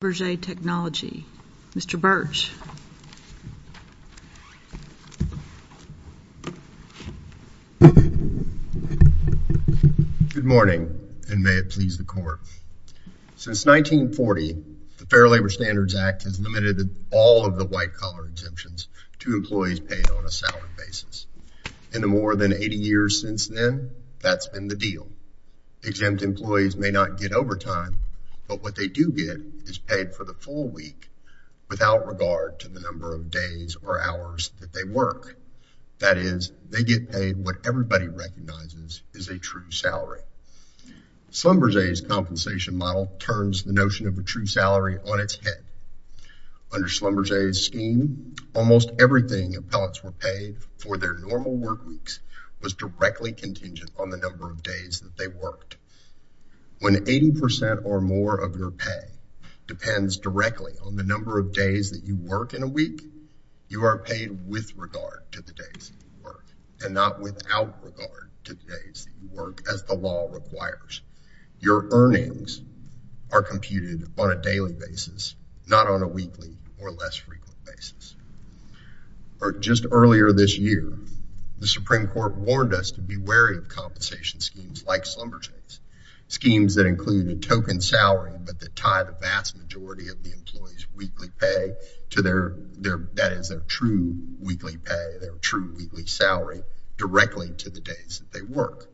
Mr. Burch. Good morning, and may it please the Court. Since 1940, the Fair Labor Standards Act has limited all of the white-collar exemptions to employees paid on a salary basis. In the more than 80 years since then, that's been the deal. Exempt employees may not get overtime, but what they do get is paid for the full week without regard to the number of days or hours that they work. That is, they get paid what everybody recognizes is a true salary. Schlumberger's compensation model turns the notion of a true salary on its head. Under Schlumberger's scheme, almost everything appellants were paid for their normal work weeks was directly contingent on the number of days that they worked. When 80% or more of your pay depends directly on the number of days that you work in a week, you are paid with regard to the days that you work, and not without regard to the days that you work, as the law requires. Your earnings are computed on a daily basis, not on a weekly or less frequent basis. Just earlier this year, the Supreme Court warned us to be wary of compensation schemes like Schlumberger's, schemes that include a token salary but that tie the vast majority of the employee's weekly pay to their, that is, their true weekly pay, their true weekly salary, directly to the days that they work.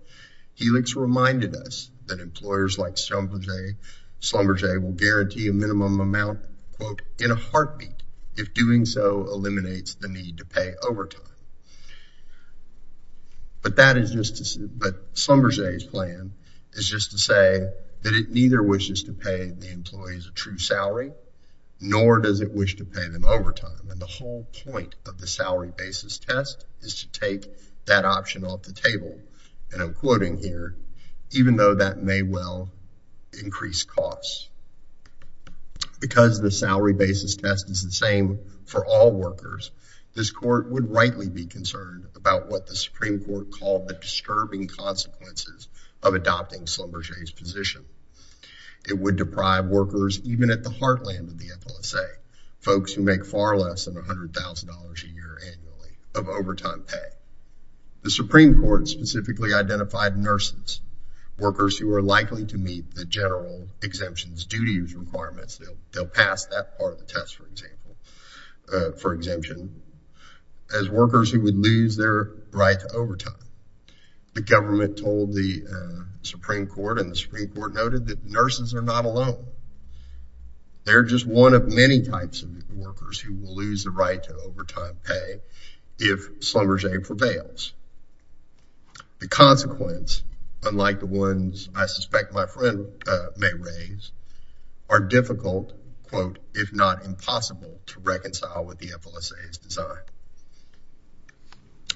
Helix reminded us that employers like Schlumberger will guarantee a minimum amount, quote, in a heartbeat if doing so eliminates the need to pay overtime. But that is just a, but Schlumberger's plan is just to say that it neither wishes to pay the employees a true salary, nor does it wish to pay them overtime. And the whole point of the salary basis test is to take that option off the table. And I'm quoting here, even though that may well increase costs. Because the salary basis test is the same for all workers, this court would rightly be concerned about what the Supreme Court called the disturbing consequences of adopting Schlumberger's position. It would deprive workers, even at the heartland of the FLSA, folks who make far less than $100,000 a year annually of overtime pay. The Supreme Court specifically identified nurses, workers who are likely to meet the general exemptions duties requirements, they'll pass that part of the test, for example, for exemption, as workers who would lose their right to overtime. The government told the Supreme Court and the Supreme Court noted that nurses are not alone. They're just one of many types of workers who will lose the right to overtime pay if Schlumberger prevails. The consequence, unlike the ones I suspect my friend may raise, are difficult, quote, if not impossible to reconcile with the FLSA's design.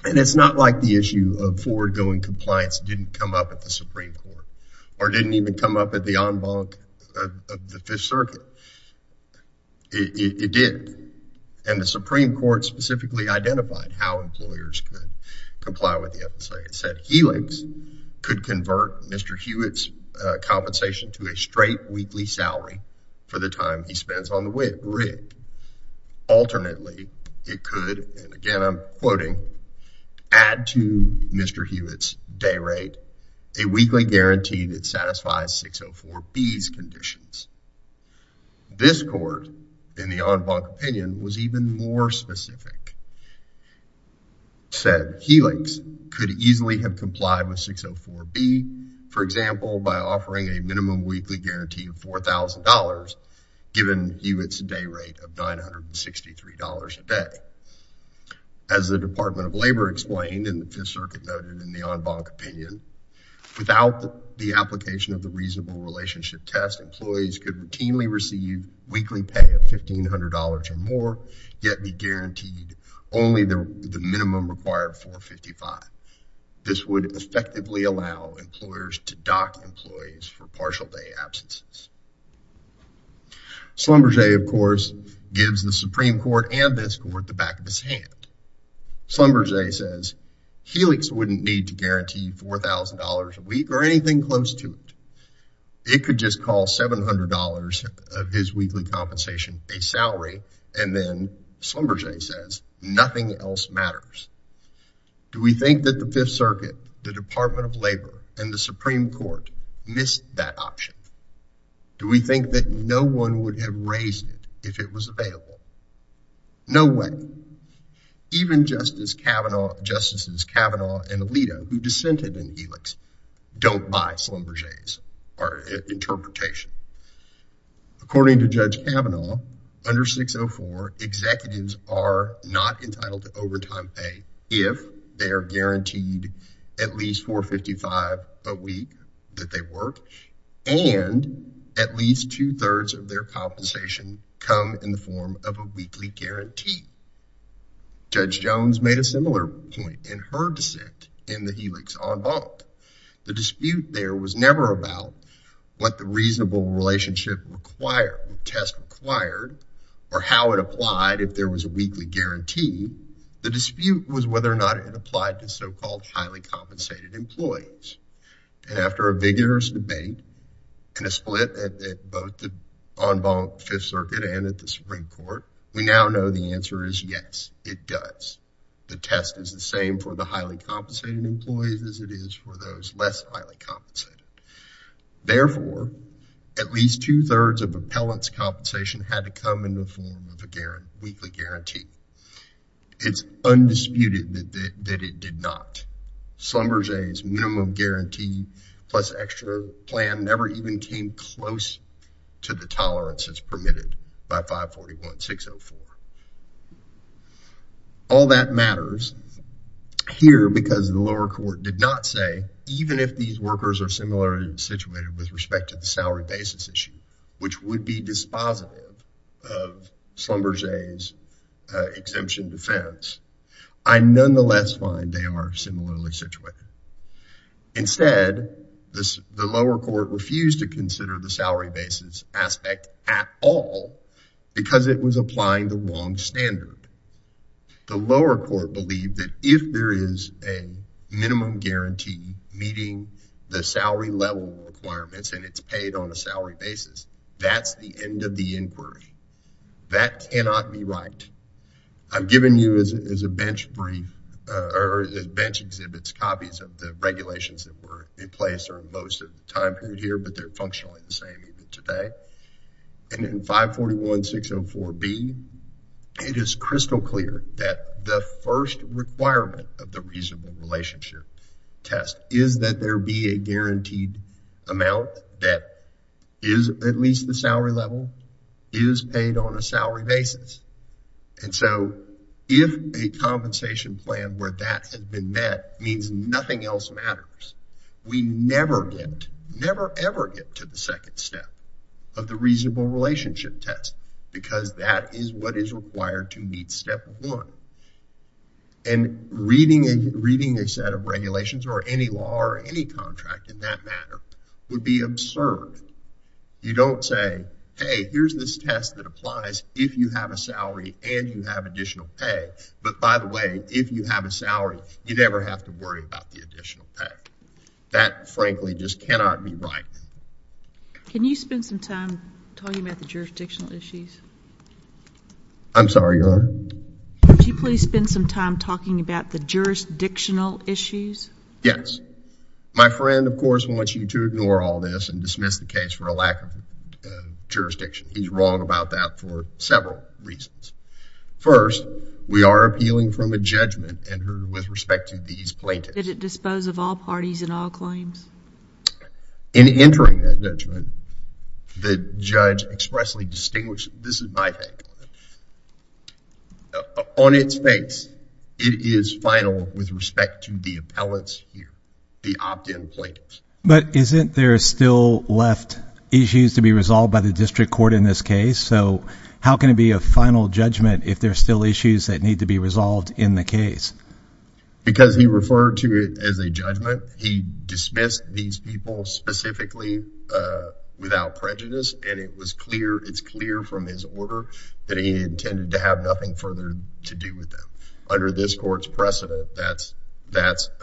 And it's not like the issue of forward-going compliance didn't come up at the Supreme Court, or didn't even come up at the en banc of the Fifth Circuit. It did, and the Supreme Court specifically identified how employers could comply with the FLSA. It said Helix could convert Mr. Hewitt's compensation to a straight weekly salary for the time he spends on the rig. Alternately, it could, and again I'm quoting, add to Mr. Hewitt's day rate a weekly guarantee that satisfies 604B's conditions. This court, in the en banc opinion, was even more specific, said Helix could easily have complied with 604B, for example, by offering a minimum weekly guarantee of $4,000, given Hewitt's day rate of $963 a day. As the Department of Labor explained, and the Fifth Circuit noted in the en banc opinion, without the application of the reasonable relationship test, employees could routinely receive weekly pay of $1,500 or more, yet be guaranteed only the minimum required of $455. This would effectively allow employers to dock employees for partial day absences. Schlumberger, of course, gives the Supreme Court and this court the back of his hand. Schlumberger says Helix wouldn't need to guarantee $4,000 a week or anything close to it. It could just call $700 of his weekly compensation a salary, and then Schlumberger says nothing else matters. Do we think that the Fifth Circuit, the Department of Labor, and the Supreme Court missed that option? Do we think that no one would have raised it if it was available? No way. Even Justices Kavanaugh and Alito, who dissented in Helix, don't buy Schlumberger's interpretation. According to Judge Kavanaugh, under 604, executives are not entitled to overtime pay if they are guaranteed at least $455 a week that they work, and at least two-thirds of their compensation come in the form of a weekly guarantee. Judge Jones made a similar point in her dissent in the Helix en banc. The dispute there was never about what the reasonable relationship required, what test required, or how it applied if there was a weekly guarantee. The dispute was whether or not it applied to so-called highly compensated employees. And after a vigorous debate and a split at both the en banc Fifth Circuit and at the Supreme Court, we now know the answer is yes, it does. The test is the same for the highly compensated employees as it is for those less highly compensated. Therefore, at least two-thirds of appellants' compensation had to come in the form of a weekly guarantee. It's undisputed that it did not. Schlumberger's minimum guarantee plus extra plan never even came close to the tolerance as permitted by 541-604. All that matters here because the lower court did not say, even if these workers are similarly situated with respect to the salary basis issue, which would be dispositive of Schlumberger's exemption defense, I nonetheless find they are similarly situated. Instead, the lower court refused to consider the salary basis aspect at all because it was applying the wrong standard. The lower court believed that if there is a minimum guarantee meeting the salary level requirements and it's paid on a salary basis, that's the end of the inquiry. That cannot be right. I've given you, as a bench exhibits copies of the regulations that were in place during most of the time period here, but they're functionally the same even today. And in 541-604-B, it is crystal clear that the first requirement of the reasonable relationship test is that there be a guaranteed amount that is at least the salary level, is paid on a salary basis. And so if a compensation plan where that had been met means nothing else matters, we never get, never ever get to the second step of the reasonable relationship test because that is what is required to meet step one. And reading a set of regulations or any law or any contract in that matter would be absurd. You don't say, hey, here's this test that applies if you have a salary and you have additional pay. But by the way, if you have a salary, you never have to worry about the additional pay. That, frankly, just cannot be right. Can you spend some time talking about the jurisdictional issues? I'm sorry, Your Honor? Could you please spend some time talking about the jurisdictional issues? Yes. My friend, of course, wants you to ignore all this and dismiss the case for a lack of jurisdiction. He's wrong about that for several reasons. First, we are appealing from a judgment with respect to these plaintiffs. Did it dispose of all parties and all claims? In entering that judgment, the judge expressly distinguished, this is my thing, on its face, it is final with respect to the appellants here, the opt-in plaintiffs. But isn't there still left issues to be resolved by the district court in this case? So how can it be a final judgment if there are still issues that need to be resolved in the case? Because he referred to it as a judgment, he dismissed these people specifically without prejudice, and it's clear from his order that he intended to have nothing further to do with them. Under this court's precedent, that's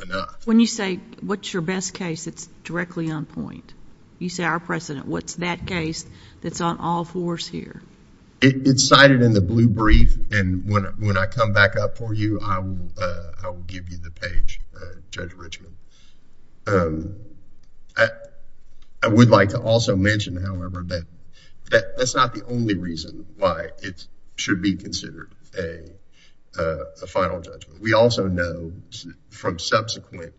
enough. When you say, what's your best case, it's directly on point. You say, our precedent, what's that case that's on all fours here? It's cited in the blue brief, and when I come back up for you, I will give you the page, Judge Richmond. I would like to also mention, however, that that's not the only reason why it should be considered a final judgment. We also know from subsequent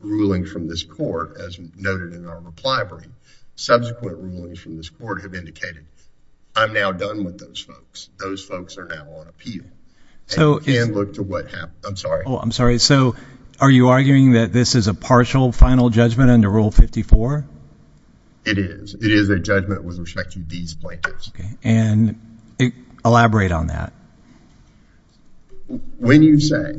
ruling from this court, as noted in our reply brief, subsequent rulings from this court have indicated, I'm now done with those folks. Those folks are now on appeal. And look to what happens. I'm sorry. Oh, I'm sorry. So are you arguing that this is a partial final judgment under Rule 54? It is. It is a judgment with respect to these plaintiffs. Elaborate on that. When you say,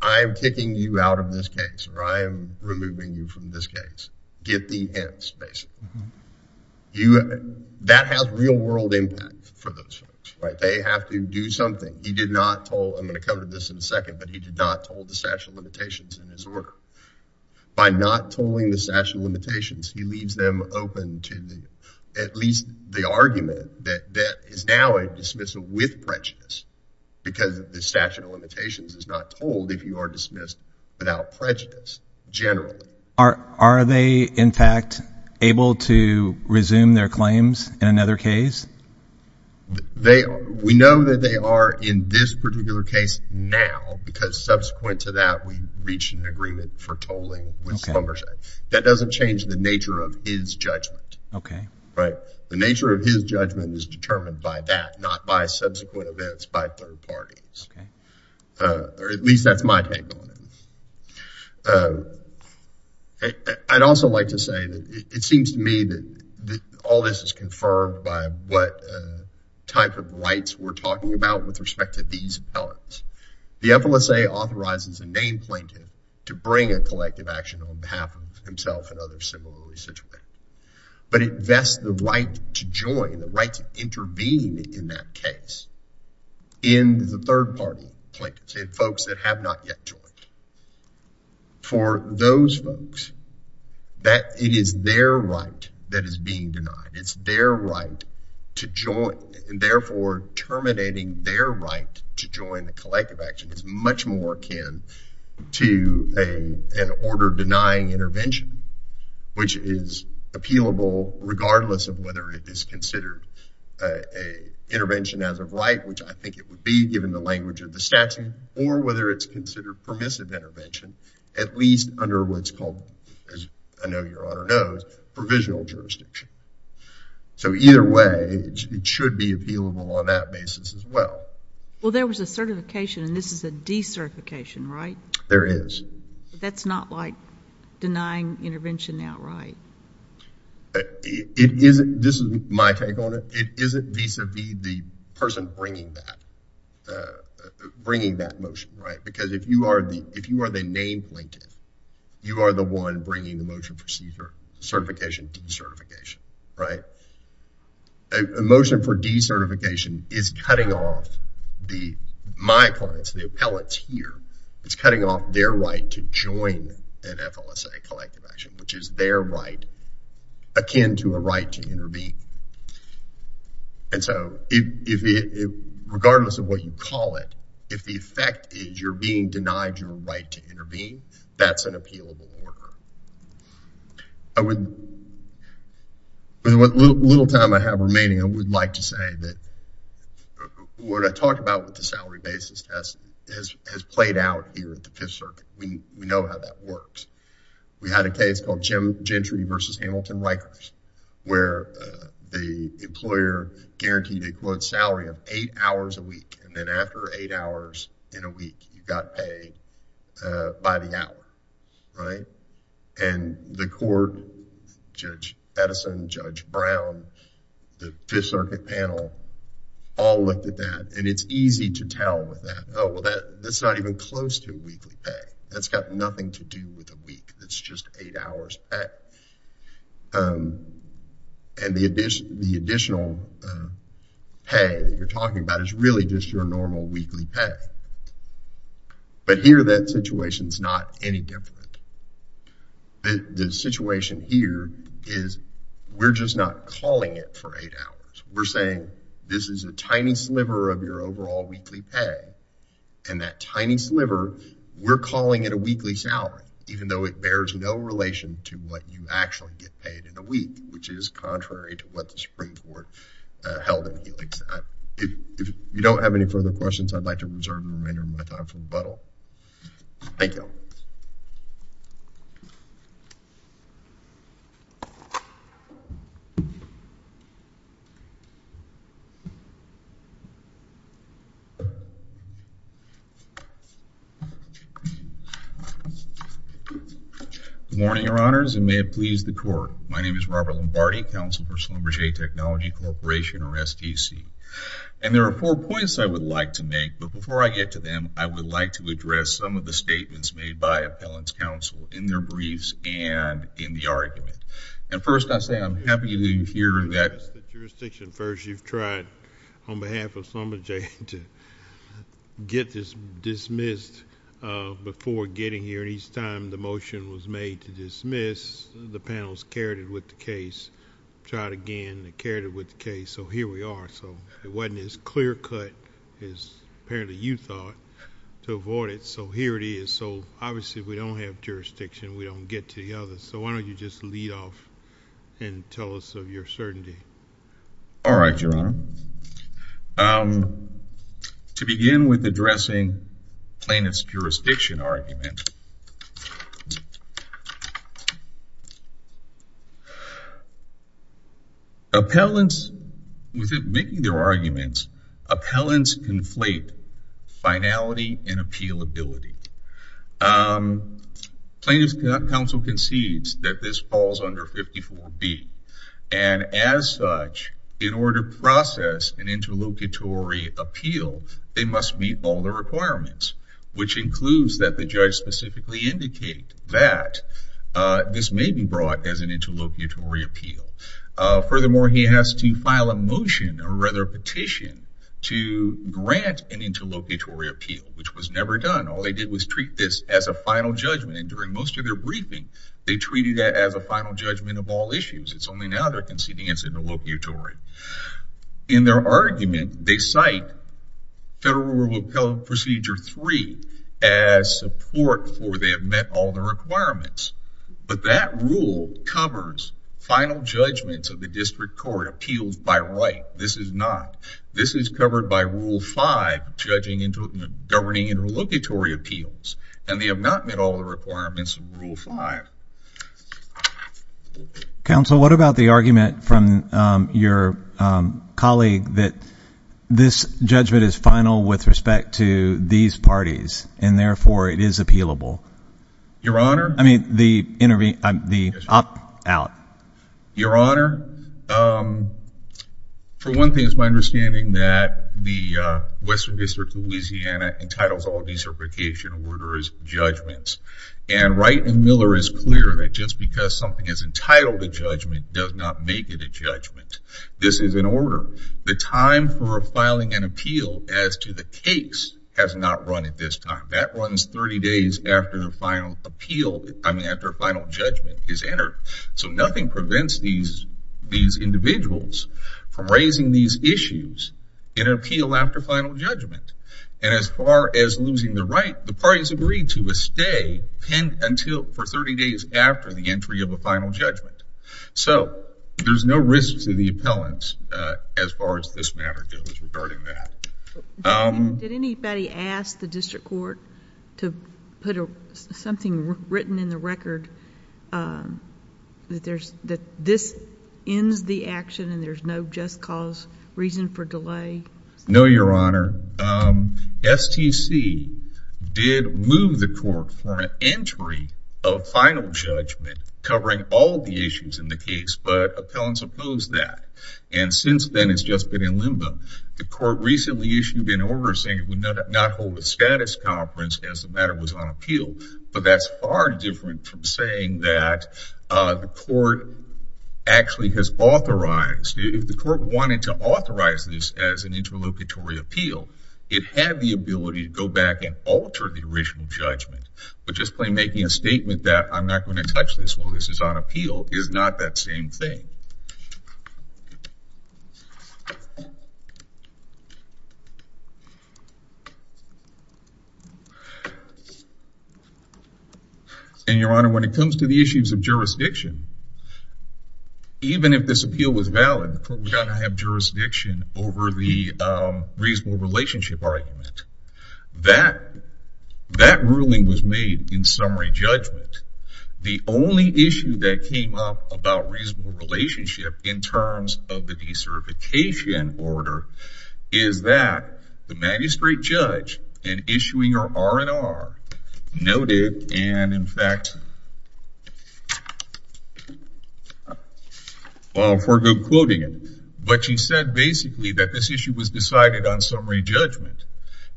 I am kicking you out of this case, or I am removing you from this case, get the hints, basically. That has real-world impact for those folks. They have to do something. He did not toll, I'm going to cover this in a second, but he did not toll the statute of limitations in his order. By not tolling the statute of limitations, he leaves them open to at least the argument that is now a dismissal with prejudice, because the statute of limitations is not tolled if you are dismissed without prejudice, generally. Are they, in fact, able to resume their claims in another case? They are. We know that they are in this particular case now, because subsequent to that, we reached an agreement for tolling with Schlumberger. That doesn't change the nature of his judgment. Okay. Right. The nature of his judgment is determined by that, not by subsequent events by third parties. Okay. Or at least that's my take on it. I'd also like to say that it seems to me that all this is confirmed by what type of rights we're talking about with respect to these appellants. The FLSA authorizes a named plaintiff to bring a collective action on behalf of himself and others similarly situated. But it vests the right to join, the right to intervene in that case in the third party plaintiffs, in folks that have not yet joined. For those folks, it is their right that is being denied. It's their right to join, and therefore terminating their right to join the collective action is much more akin to an order denying intervention, which is appealable regardless of whether it is considered an intervention as of right, which I think it would be given the language of the statute, or whether it's considered permissive intervention, at least under what's called, as I know Your Honor knows, provisional jurisdiction. So either way, it should be appealable on that basis as well. Well, there was a certification, and this is a decertification, right? There is. But that's not like denying intervention outright. It isn't. This is my take on it. It isn't vis-a-vis the person bringing that motion, right? Because if you are the named plaintiff, you are the one bringing the motion for certification, decertification, right? A motion for decertification is cutting off my clients, the appellants here. It's cutting off their right to join an FLSA collective action, which is their right akin to a right to intervene. And so regardless of what you call it, if the effect is you're being denied your right to intervene, that's an appealable order. With the little time I have remaining, I would like to say that what I talked about with the salary basis has played out here at the Fifth Circuit. We know how that works. We had a case called Gentry v. Hamilton Rikers where the employer guaranteed a quote salary of eight hours a week, and then after eight hours in a week, you got paid by the hour, right? And the court, Judge Edison, Judge Brown, the Fifth Circuit panel, all looked at that. And it's easy to tell with that, oh, well, that's not even close to a weekly pay. That's got nothing to do with a week. That's just eight hours back. And the additional pay that you're talking about is really just your normal weekly pay. But here that situation is not any different. The situation here is we're just not calling it for eight hours. We're saying this is a tiny sliver of your overall weekly pay, and that tiny sliver, we're calling it a weekly salary, even though it bears no relation to what you actually get paid in a week, which is contrary to what the Supreme Court held in the case. If you don't have any further questions, I'd like to reserve the remainder of my time for rebuttal. Thank you. Good morning, Your Honors, and may it please the Court. My name is Robert Lombardi, Counsel for Schlumberger Technology Corporation, or SDC. And there are four points I would like to make, but before I get to them, I would like to address some of the statements made by Appellant's Counsel in their briefs and in the argument. And first, I say I'm happy to hear that jurisdiction first. You've tried on behalf of Schlumberger to get this dismissed before getting here. And each time the motion was made to dismiss, the panels carried it with the case, tried again, carried it with the case. So here we are. So it wasn't as clear-cut as apparently you thought to avoid it. So here it is. So obviously, we don't have jurisdiction. We don't get to the others. So why don't you just lead off and tell us of your certainty? All right, Your Honor. So to begin with addressing Plaintiff's jurisdiction argument, Appellants, within making their arguments, Appellants conflate finality and appealability. Plaintiff's Counsel concedes that this falls under 54B. And as such, in order to process an interlocutory appeal, they must meet all the requirements, which includes that the judge specifically indicate that this may be brought as an interlocutory appeal. Furthermore, he has to file a motion, or rather a petition, to grant an interlocutory appeal, which was never done. All they did was treat this as a final judgment. And during most of their briefing, they treated it as a final judgment of all issues. It's only now they're conceding it's interlocutory. In their argument, they cite Federal Rule of Appellant Procedure 3 as support for they have met all the requirements. But that rule covers final judgments of the district court, appeals by right. This is not. This is covered by Rule 5, governing interlocutory appeals. And they have not met all the requirements of Rule 5. Counsel, what about the argument from your colleague that this judgment is final with respect to these parties, and therefore it is appealable? Your Honor. I mean, the up, out. Your Honor, for one thing, it's my understanding that the Western District of Louisiana entitles all decertification orders judgments. And Wright and Miller is clear that just because something is entitled a judgment does not make it a judgment. This is an order. The time for filing an appeal as to the case has not run at this time. That runs 30 days after the final appeal, I mean, after a final judgment is entered. So nothing prevents these individuals from raising these issues in an appeal after final judgment. And as far as losing the right, the parties agree to a stay until for 30 days after the entry of a final judgment. So there's no risk to the appellants as far as this matter goes regarding that. Did anybody ask the district court to put something written in the record that this ends the action and there's no just cause reason for delay? No, Your Honor. STC did move the court for an entry of final judgment covering all the issues in the case, but appellants opposed that. And since then, it's just been in limbo. The court recently issued an order saying it would not hold a status conference as the matter was on appeal. But that's far different from saying that the court actually has authorized. If the court wanted to authorize this as an interlocutory appeal, it had the ability to go back and alter the original judgment. But just by making a statement that I'm not going to touch this while this is on appeal is not that same thing. And Your Honor, when it comes to the issues of jurisdiction, even if this appeal was valid, we're going to have jurisdiction over the reasonable relationship argument. That ruling was made in summary judgment. The only issue that came up about reasonable relationship in terms of the decertification order is that the magistrate judge in issuing an R&R noted, and in fact, I'll forgo quoting it. But she said basically that this issue was decided on summary judgment.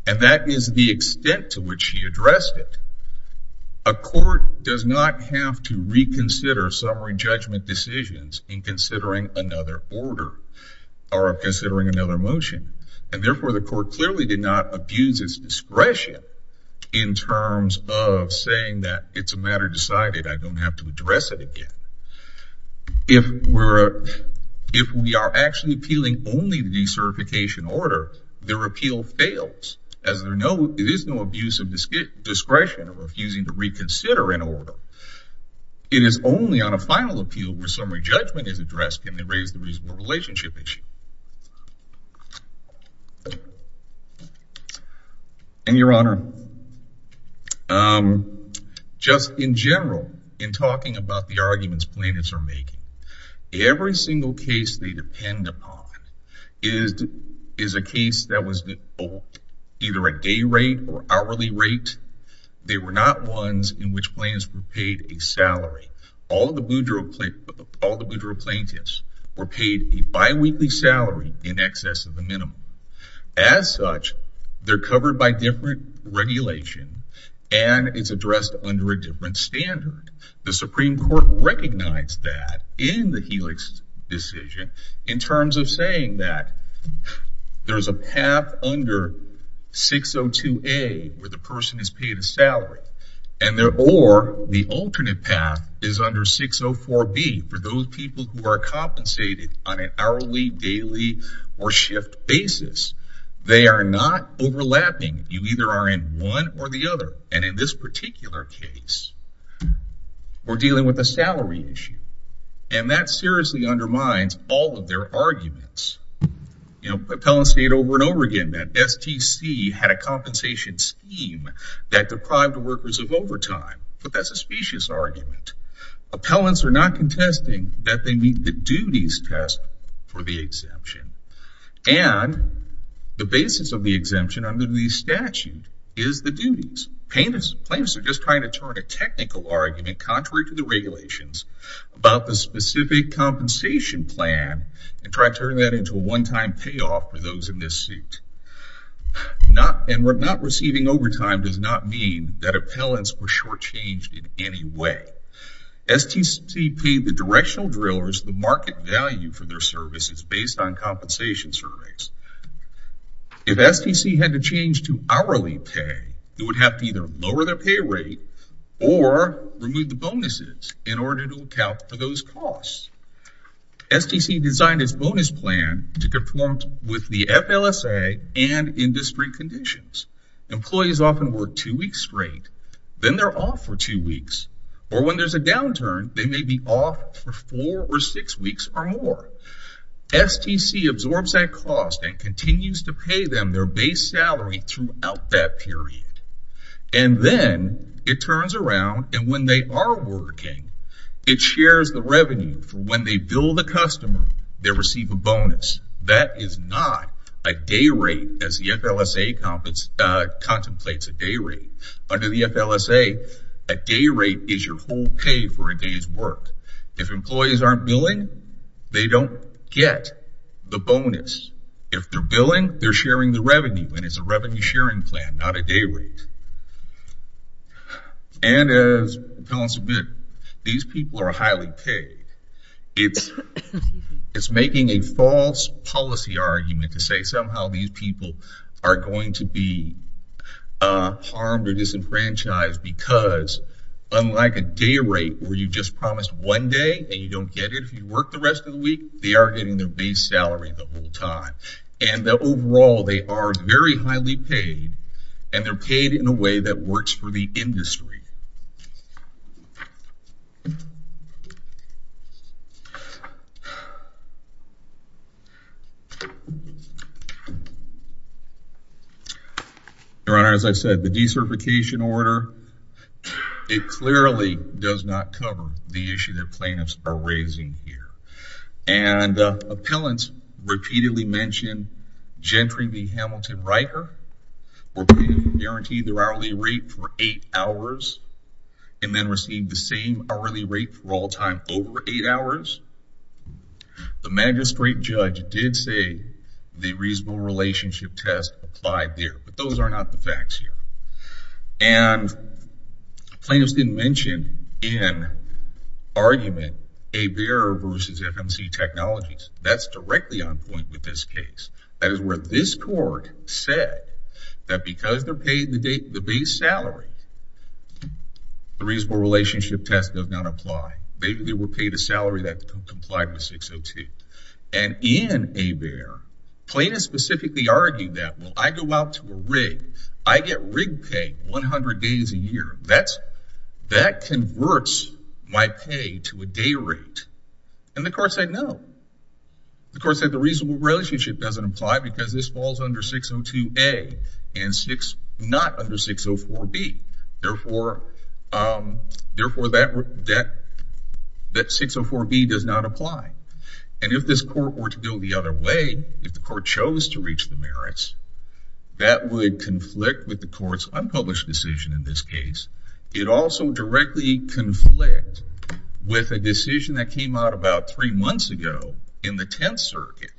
And that is the extent to which she addressed it. A court does not have to reconsider summary judgment decisions in considering another order or considering another motion. And therefore, the court clearly did not abuse its discretion in terms of saying that it's a matter decided. I don't have to address it again. If we are actually appealing only the decertification order, the repeal fails. As there is no abuse of discretion or refusing to reconsider an order. It is only on a final appeal where summary judgment is addressed can they raise the reasonable relationship issue. And your honor. Just in general, in talking about the arguments plaintiffs are making, every single case they depend upon is a case that was either a day rate or hourly rate. They were not ones in which plaintiffs were paid a salary. All the Boudreaux plaintiffs were paid a biweekly salary in excess of the minimum. As such, they're covered by different regulation and it's addressed under a different standard. The Supreme Court recognized that in the Helix decision in terms of saying that there's a path under 602A where the person is paid a salary. Or the alternate path is under 604B for those people who are compensated on an hourly, daily, or shift basis. They are not overlapping. You either are in one or the other. And in this particular case, we're dealing with a salary issue. And that seriously undermines all of their arguments. Appellants state over and over again that STC had a compensation scheme that deprived workers of overtime. But that's a specious argument. Appellants are not contesting that they meet the duties test for the exemption. And the basis of the exemption under the statute is the duties. Plaintiffs are just trying to turn a technical argument contrary to the regulations about the specific compensation plan and try to turn that into a one-time payoff for those in this seat. And not receiving overtime does not mean that appellants were shortchanged in any way. STC paid the directional drillers the market value for their services based on compensation surveys. If STC had to change to hourly pay, they would have to either lower their pay rate or remove the bonuses in order to account for those costs. STC designed its bonus plan to conform with the FLSA and industry conditions. Employees often work two weeks straight. Then they're off for two weeks. Or when there's a downturn, they may be off for four or six weeks or more. STC absorbs that cost and continues to pay them their base salary throughout that period. And then it turns around, and when they are working, it shares the revenue. When they bill the customer, they receive a bonus. That is not a day rate as the FLSA contemplates a day rate. Under the FLSA, a day rate is your whole pay for a day's work. If employees aren't billing, they don't get the bonus. If they're billing, they're sharing the revenue, and it's a revenue-sharing plan, not a day rate. And as appellants admit, these people are highly paid. It's making a false policy argument to say somehow these people are going to be harmed or disenfranchised because unlike a day rate where you just promised one day and you don't get it if you work the rest of the week, they are getting their base salary the whole time. And overall, they are very highly paid, and they're paid in a way that works for the industry. Your Honor, as I said, the decertification order, it clearly does not cover the issue that plaintiffs are raising here. And appellants repeatedly mentioned gentry being Hamilton Riker, were being guaranteed their hourly rate for eight hours, and then received the same hourly rate for all time over eight hours. The magistrate judge did say the reasonable relationship test applied there, but those are not the facts here. And plaintiffs didn't mention in argument a bearer versus FMC Technologies. That's directly on point with this case. That is where this court said that because they're paid the base salary, the reasonable relationship test does not apply. Maybe they were paid a salary that complied with 602. And in a bearer, plaintiffs specifically argued that, well, I go out to a rig, I get rigged pay 100 days a year. That converts my pay to a day rate. And the court said no. The court said the reasonable relationship doesn't apply because this falls under 602A and not under 604B. Therefore, that 604B does not apply. And if this court were to go the other way, if the court chose to reach the merits, that would conflict with the court's unpublished decision in this case. It would also directly conflict with a decision that came out about three months ago in the Tenth Circuit,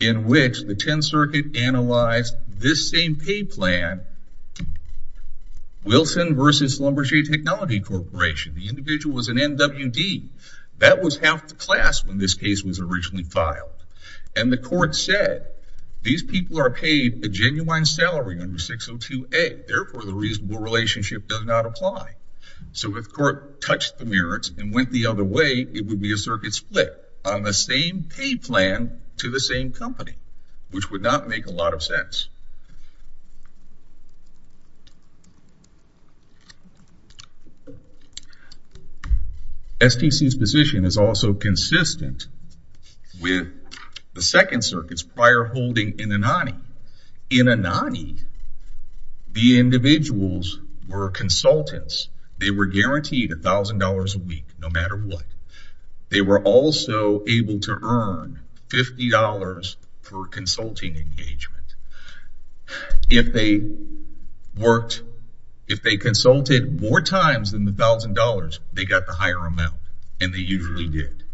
in which the Tenth Circuit analyzed this same pay plan, Wilson versus Lumberjee Technology Corporation. The individual was an NWD. That was half the class when this case was originally filed. And the court said these people are paid a genuine salary under 602A. Therefore, the reasonable relationship does not apply. So if the court touched the merits and went the other way, it would be a circuit split on the same pay plan to the same company, which would not make a lot of sense. STC's position is also consistent with the Second Circuit's prior holding in Anani. In Anani, the individuals were consultants. They were guaranteed $1,000 a week, no matter what. They were also able to earn $50 for consulting engagement. If they consulted more times than the $1,000, they got the higher amount, and they usually did.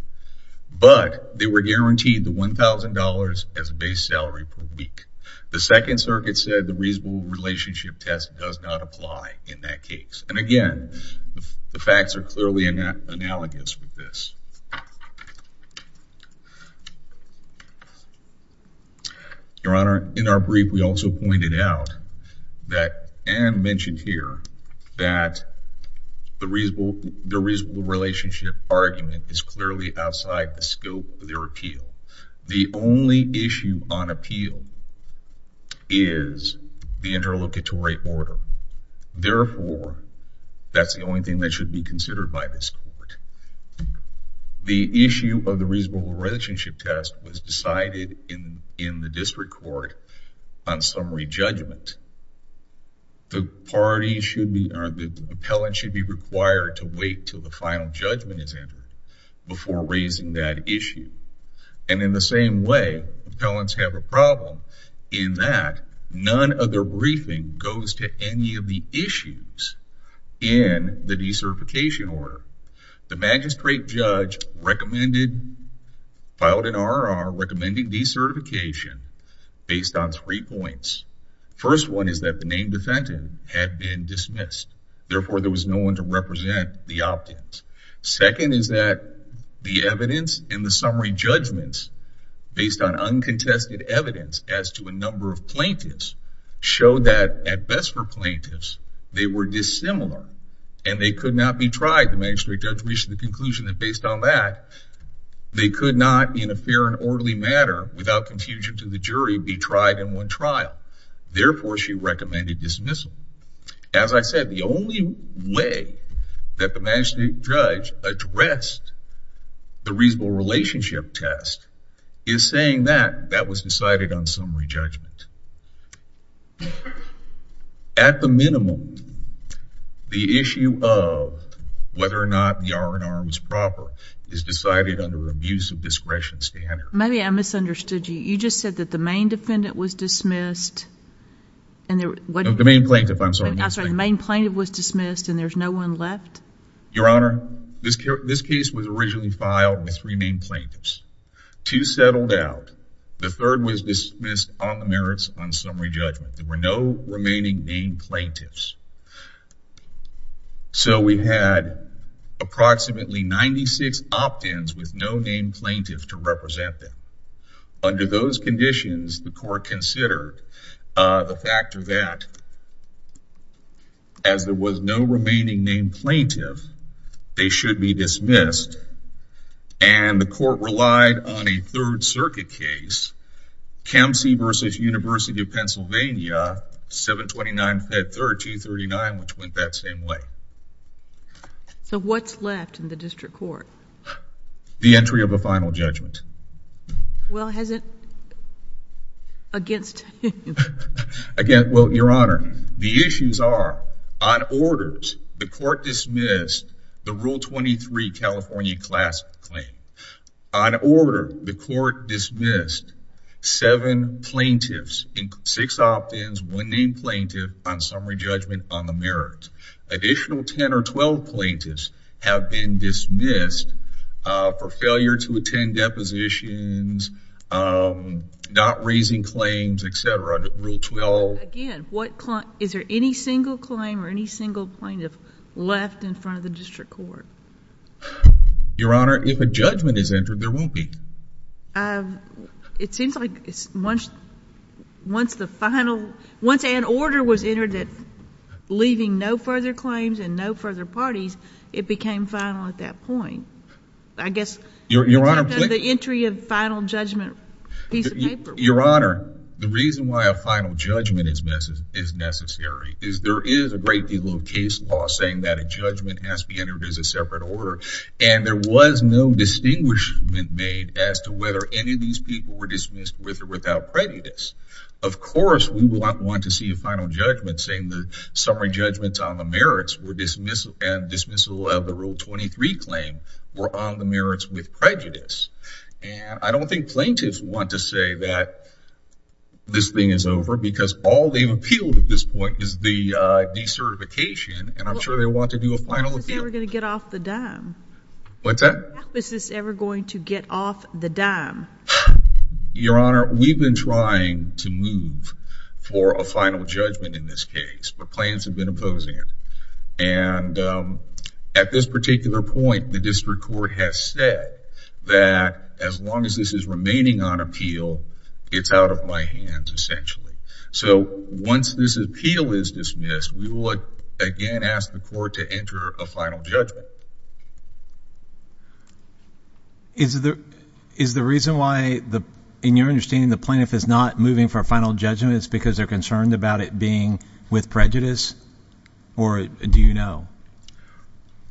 But they were guaranteed the $1,000 as a base salary per week. The Second Circuit said the reasonable relationship test does not apply in that case. And again, the facts are clearly analogous with this. Your Honor, in our brief, we also pointed out that Anne mentioned here that the reasonable relationship argument is clearly outside the scope of their appeal. The only issue on appeal is the interlocutory order. Therefore, that's the only thing that should be considered by this court. The issue of the reasonable relationship test was decided in the district court on summary judgment. The appellant should be required to wait until the final judgment is entered before raising that issue. And in the same way, appellants have a problem in that none of their briefing goes to any of the issues in the decertification order. The magistrate judge filed an RRR recommending decertification based on three points. First one is that the name defendant had been dismissed. Therefore, there was no one to represent the opt-ins. Second is that the evidence in the summary judgments, based on uncontested evidence as to a number of plaintiffs, showed that, at best for plaintiffs, they were dissimilar and they could not be tried. The magistrate judge reached the conclusion that, based on that, they could not, in a fair and orderly manner, without confusion to the jury, be tried in one trial. Therefore, she recommended dismissal. As I said, the only way that the magistrate judge addressed the reasonable relationship test is saying that that was decided on summary judgment. At the minimum, the issue of whether or not the RRR was proper is decided under abuse of discretion standard. Maybe I misunderstood you. You just said that the main defendant was dismissed. The main plaintiff, I'm sorry. The main plaintiff was dismissed and there's no one left? Your Honor, this case was originally filed with three main plaintiffs. Two settled out. The third was dismissed on the merits on summary judgment. There were no remaining main plaintiffs. So we had approximately 96 opt-ins with no main plaintiff to represent them. Under those conditions, the court considered the fact that, as there was no remaining main plaintiff, they should be dismissed, and the court relied on a Third Circuit case, Kempsey v. University of Pennsylvania, 729 Fed 3rd, 239, which went that same way. So what's left in the district court? The entry of a final judgment. Well, has it against you? Well, Your Honor, the issues are, on orders, the court dismissed the Rule 23 California class claim. On order, the court dismissed seven plaintiffs, six opt-ins, one main plaintiff on summary judgment on the merits. Additional 10 or 12 plaintiffs have been dismissed for failure to attend depositions, not raising claims, et cetera, under Rule 12. Again, is there any single claim or any single plaintiff left in front of the district court? Your Honor, if a judgment is entered, there won't be. It seems like once the final—once an order was entered that, leaving no further claims and no further parties, it became final at that point. I guess— Your Honor— The entry of final judgment piece of paper— Your Honor, the reason why a final judgment is necessary is there is a great deal of case law saying that a judgment has to be entered as a separate order, and there was no distinguishment made as to whether any of these people were dismissed with or without prejudice. Of course, we would not want to see a final judgment saying the summary judgments on the merits and dismissal of the Rule 23 claim were on the merits with prejudice. And I don't think plaintiffs want to say that this thing is over because all they've appealed at this point is the decertification, and I'm sure they want to do a final appeal. How is this ever going to get off the dime? What's that? How is this ever going to get off the dime? Your Honor, we've been trying to move for a final judgment in this case, but plaintiffs have been opposing it. And at this particular point, the district court has said that as long as this is remaining on appeal, it's out of my hands, essentially. So once this appeal is dismissed, we will again ask the court to enter a final judgment. Is the reason why, in your understanding, the plaintiff is not moving for a final judgment is because they're concerned about it being with prejudice, or do you know?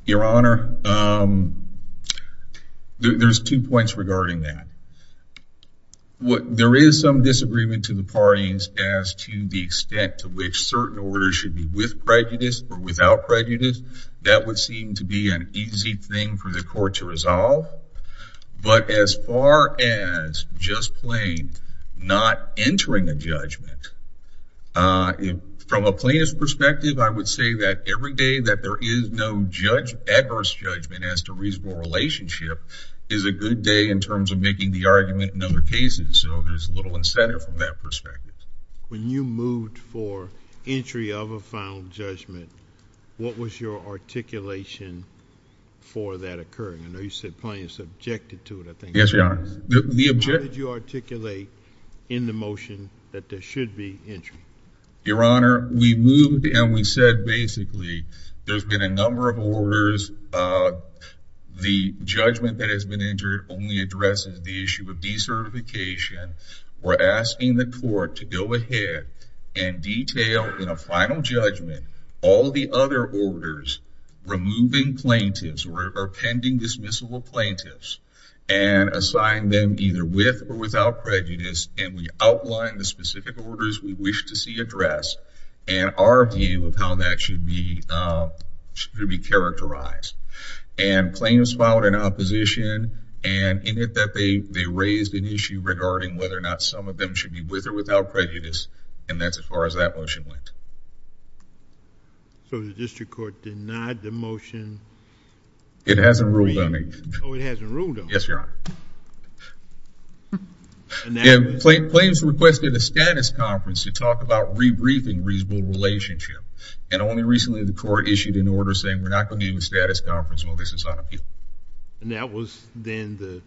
Your Honor, there's two points regarding that. There is some disagreement to the parties as to the extent to which certain orders should be with prejudice or without prejudice. That would seem to be an easy thing for the court to resolve. But as far as just plain not entering a judgment, from a plaintiff's perspective, I would say that every day that there is no adverse judgment as to reasonable relationship is a good day in terms of making the argument in other cases. So there's a little incentive from that perspective. When you moved for entry of a final judgment, what was your articulation for that occurring? I know you said plaintiffs objected to it, I think. Yes, Your Honor. How did you articulate in the motion that there should be entry? Your Honor, we moved and we said basically there's been a number of orders. The judgment that has been entered only addresses the issue of decertification. We're asking the court to go ahead and detail in a final judgment all the other orders removing plaintiffs or pending dismissal of plaintiffs and assign them either with or without prejudice and we outline the specific orders we wish to see addressed and our view of how that should be characterized. And claims filed in opposition and in it that they raised an issue regarding whether or not some of them should be with or without prejudice and that's as far as that motion went. So the district court denied the motion? It hasn't ruled on it yet. Oh, it hasn't ruled on it? Yes, Your Honor. And claims requested a status conference to talk about rebriefing reasonable relationship and only recently the court issued an order saying we're not going to give a status conference while this is on appeal. And that was then the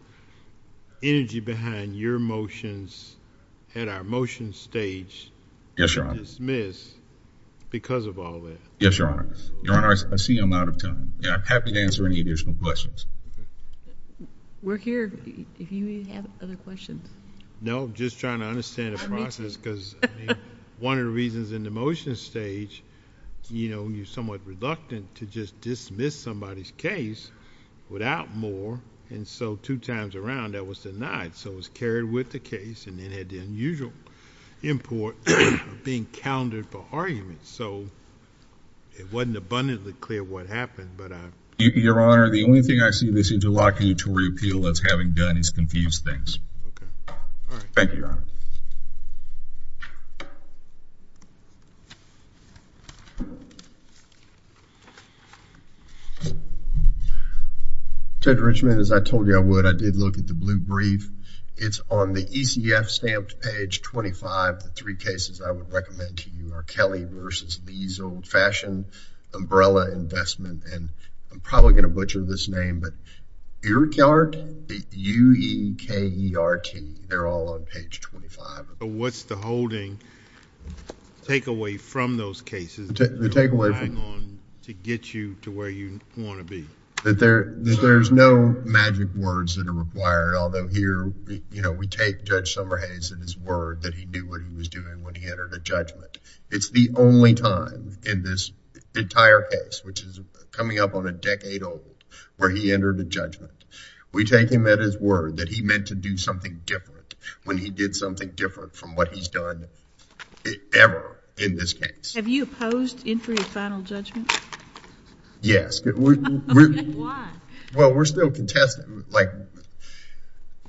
energy behind your motions at our motion stage to dismiss because of all that. Yes, Your Honor. Your Honor, I see I'm out of time and I'm happy to answer any additional questions. We're here if you have other questions. No, I'm just trying to understand the process because one of the reasons in the motion stage, you know, you're somewhat reluctant to just dismiss somebody's case without more and so two times around that was denied. So it was carried with the case and then had the unusual import of being countered for argument. So it wasn't abundantly clear what happened, but I... Your Honor, the only thing I see this interlocking to reappeal as having done is confuse things. Okay. Thank you, Your Honor. Judge Richman, as I told you I would, I did look at the blue brief. It's on the ECF stamped page 25. The three cases I would recommend to you are Kelly v. Lee's old-fashioned umbrella investment and I'm probably going to butcher this name, but Uekert, U-E-K-E-R-T, they're all on page 25. What's the holding takeaway from those cases that you're relying on to get you to where you want to be? That there's no magic words that are required, although here, you know, we take Judge Summerhase and his word that he knew what he was doing when he entered a judgment. It's the only time in this entire case, which is coming up on a decade old, where he entered a judgment. We take him at his word that he meant to do something different when he did something different from what he's done ever in this case. Have you opposed entry of final judgment? Yes. Why? Well, we're still contesting.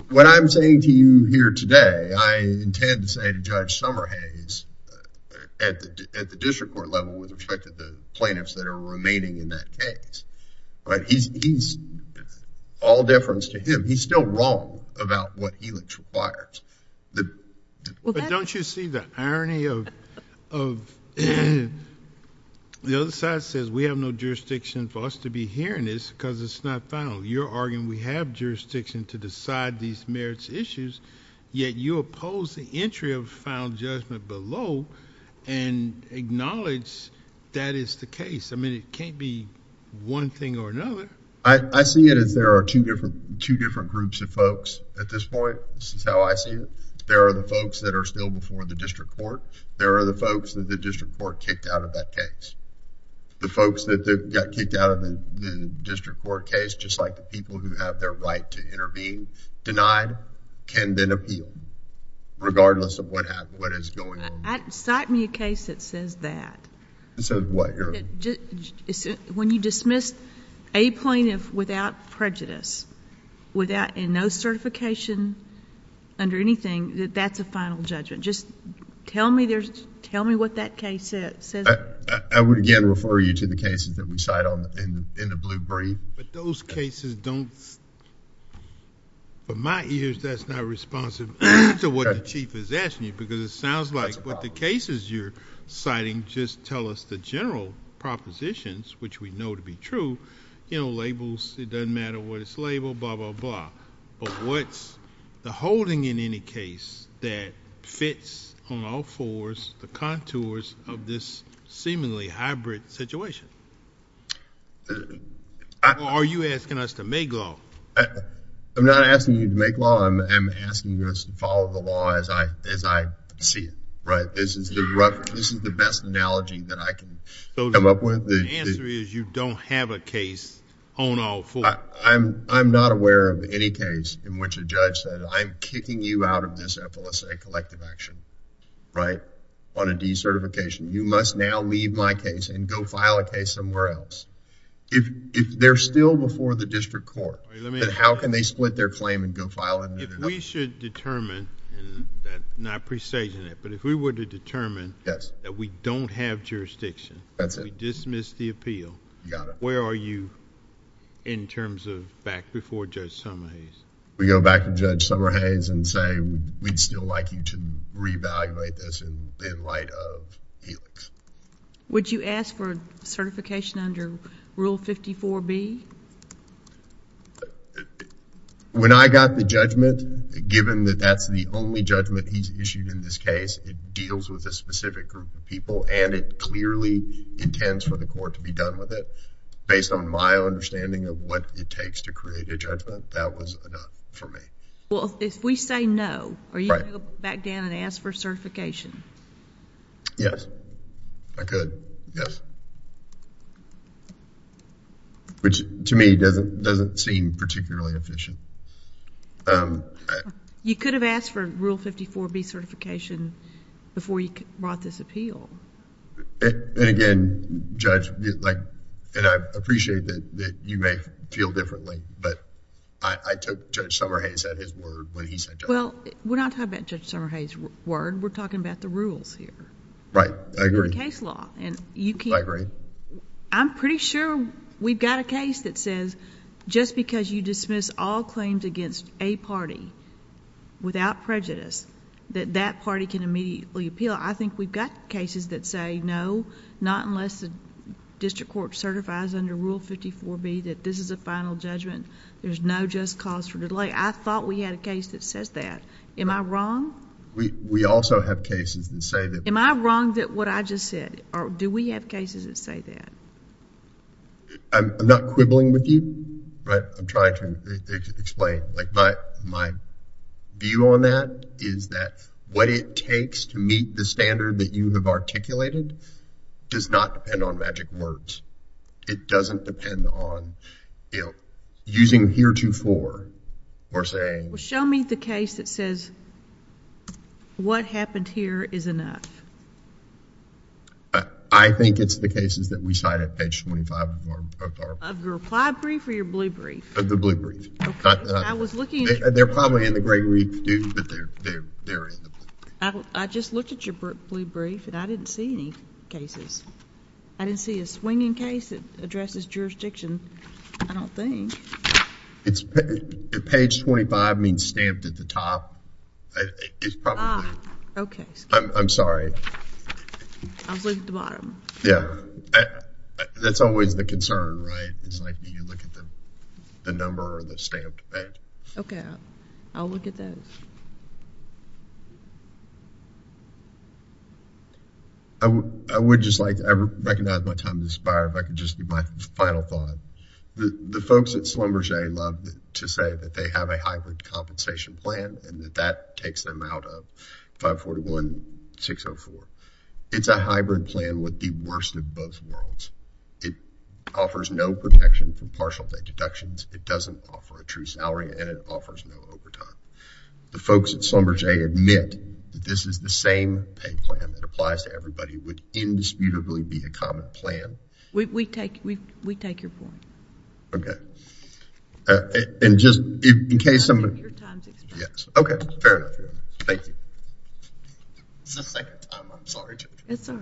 What I'm saying to you here today, I intend to say to Judge Summerhase at the district court level with respect to the plaintiffs that are remaining in that case, he's all deference to him. He's still wrong about what he requires. Don't you see the irony of... the other side says, we have no jurisdiction for us to be hearing this because it's not final. You're arguing we have jurisdiction to decide these merits issues, yet you oppose the entry of final judgment below and acknowledge that is the case. I mean, it can't be one thing or another. I see it as there are two different groups of folks at this point. This is how I see it. There are the folks that are still before the district court. There are the folks that the district court kicked out of that case. The folks that got kicked out of the district court case, just like the people who have their right to intervene, denied, can then appeal regardless of what is going on. Cite me a case that says that. That says what, Your Honor? When you dismiss a plaintiff without prejudice and no certification under anything, that that's a final judgment. Just tell me what that case says. I would, again, refer you to the cases that we cite in the blue brief. But those cases don't... From my ears, that's not responsive to what the chief is asking you, because it sounds like what the cases you're citing just tell us the general propositions, which we know to be true. Labels, it doesn't matter what it's labeled, blah, blah, blah. What's the holding in any case that fits on all fours the contours of this seemingly hybrid situation? Are you asking us to make law? I'm not asking you to make law. I'm asking you to follow the law as I see it. This is the best analogy that I can come up with. The answer is you don't have a case on all fours. I'm not aware of any case in which a judge said, I'm kicking you out of this FLSA collective action on a decertification. You must now leave my case and go file a case somewhere else. If they're still before the district court, then how can they split their claim and go file... If we should determine, and not presaging it, but if we were to determine... Yes.... that we don't have jurisdiction... That's it.... we dismiss the appeal... You got it.... where are you in terms of back before Judge Summerhays? We go back to Judge Summerhays and say, we'd still like you to re-evaluate this in light of Helix. Would you ask for certification under Rule 54B? When I got the judgment, given that that's the only judgment he's issued in this case, it deals with a specific group of people, and it clearly intends for the court to be done with it. Based on my understanding of what it takes to create a judgment, that was enough for me. Well, if we say no... Right.... would you go back down and ask for certification? Yes. I could. Yes. Which, to me, doesn't seem particularly efficient. You could have asked for Rule 54B certification before you brought this appeal. Again, Judge, and I appreciate that you may feel differently, but I took Judge Summerhays at his word when he said... Well, we're not talking about Judge Summerhays' word. We're talking about the rules here. Right. I agree. The case law, and you can... I agree. I'm pretty sure we've got a case that says, just because you dismiss all claims against a party without prejudice, that that party can immediately appeal. I think we've got cases that say, no, not unless the district just cause for delay. I thought we had a case that says that. Am I wrong? We also have cases that say that. Am I wrong that what I just said, or do we have cases that say that? I'm not quibbling with you, but I'm trying to explain. My view on that is that what it takes to meet the standard that you have articulated does not depend on magic words. It doesn't depend on using heretofore or saying... Well, show me the case that says, what happened here is enough. I think it's the cases that we cite at page twenty-five of our... Of your reply brief or your blue brief? Of the blue brief. Okay. I was looking... They're probably in the gray brief, too, but they're in the blue brief. I just looked at your blue brief, and I didn't see any cases. I didn't see a swinging case that addresses jurisdiction. I don't think. Page twenty-five means stamped at the top. It's probably... Ah, okay. I'm sorry. I was looking at the bottom. Yeah. That's always the concern, right? You look at the number or the stamped page. Okay. I'll look at those. I would just like to... I recognize my time is expired, but I can just give my final thought. The folks at Slumber J love to say that they have a hybrid compensation plan and that that takes them out of 541-604. It's a hybrid plan with the worst of both worlds. It offers no protection from partial day deductions. It doesn't offer a true salary, and it offers no overtime. The folks at Slumber J admit that this is the same pay plan that applies to everybody. It would indisputably be a common plan. We take your point. Okay. And just in case somebody... Your time is expired. Yes. Okay. Fair enough. Thank you. It's the second time. I'm sorry. It's all right.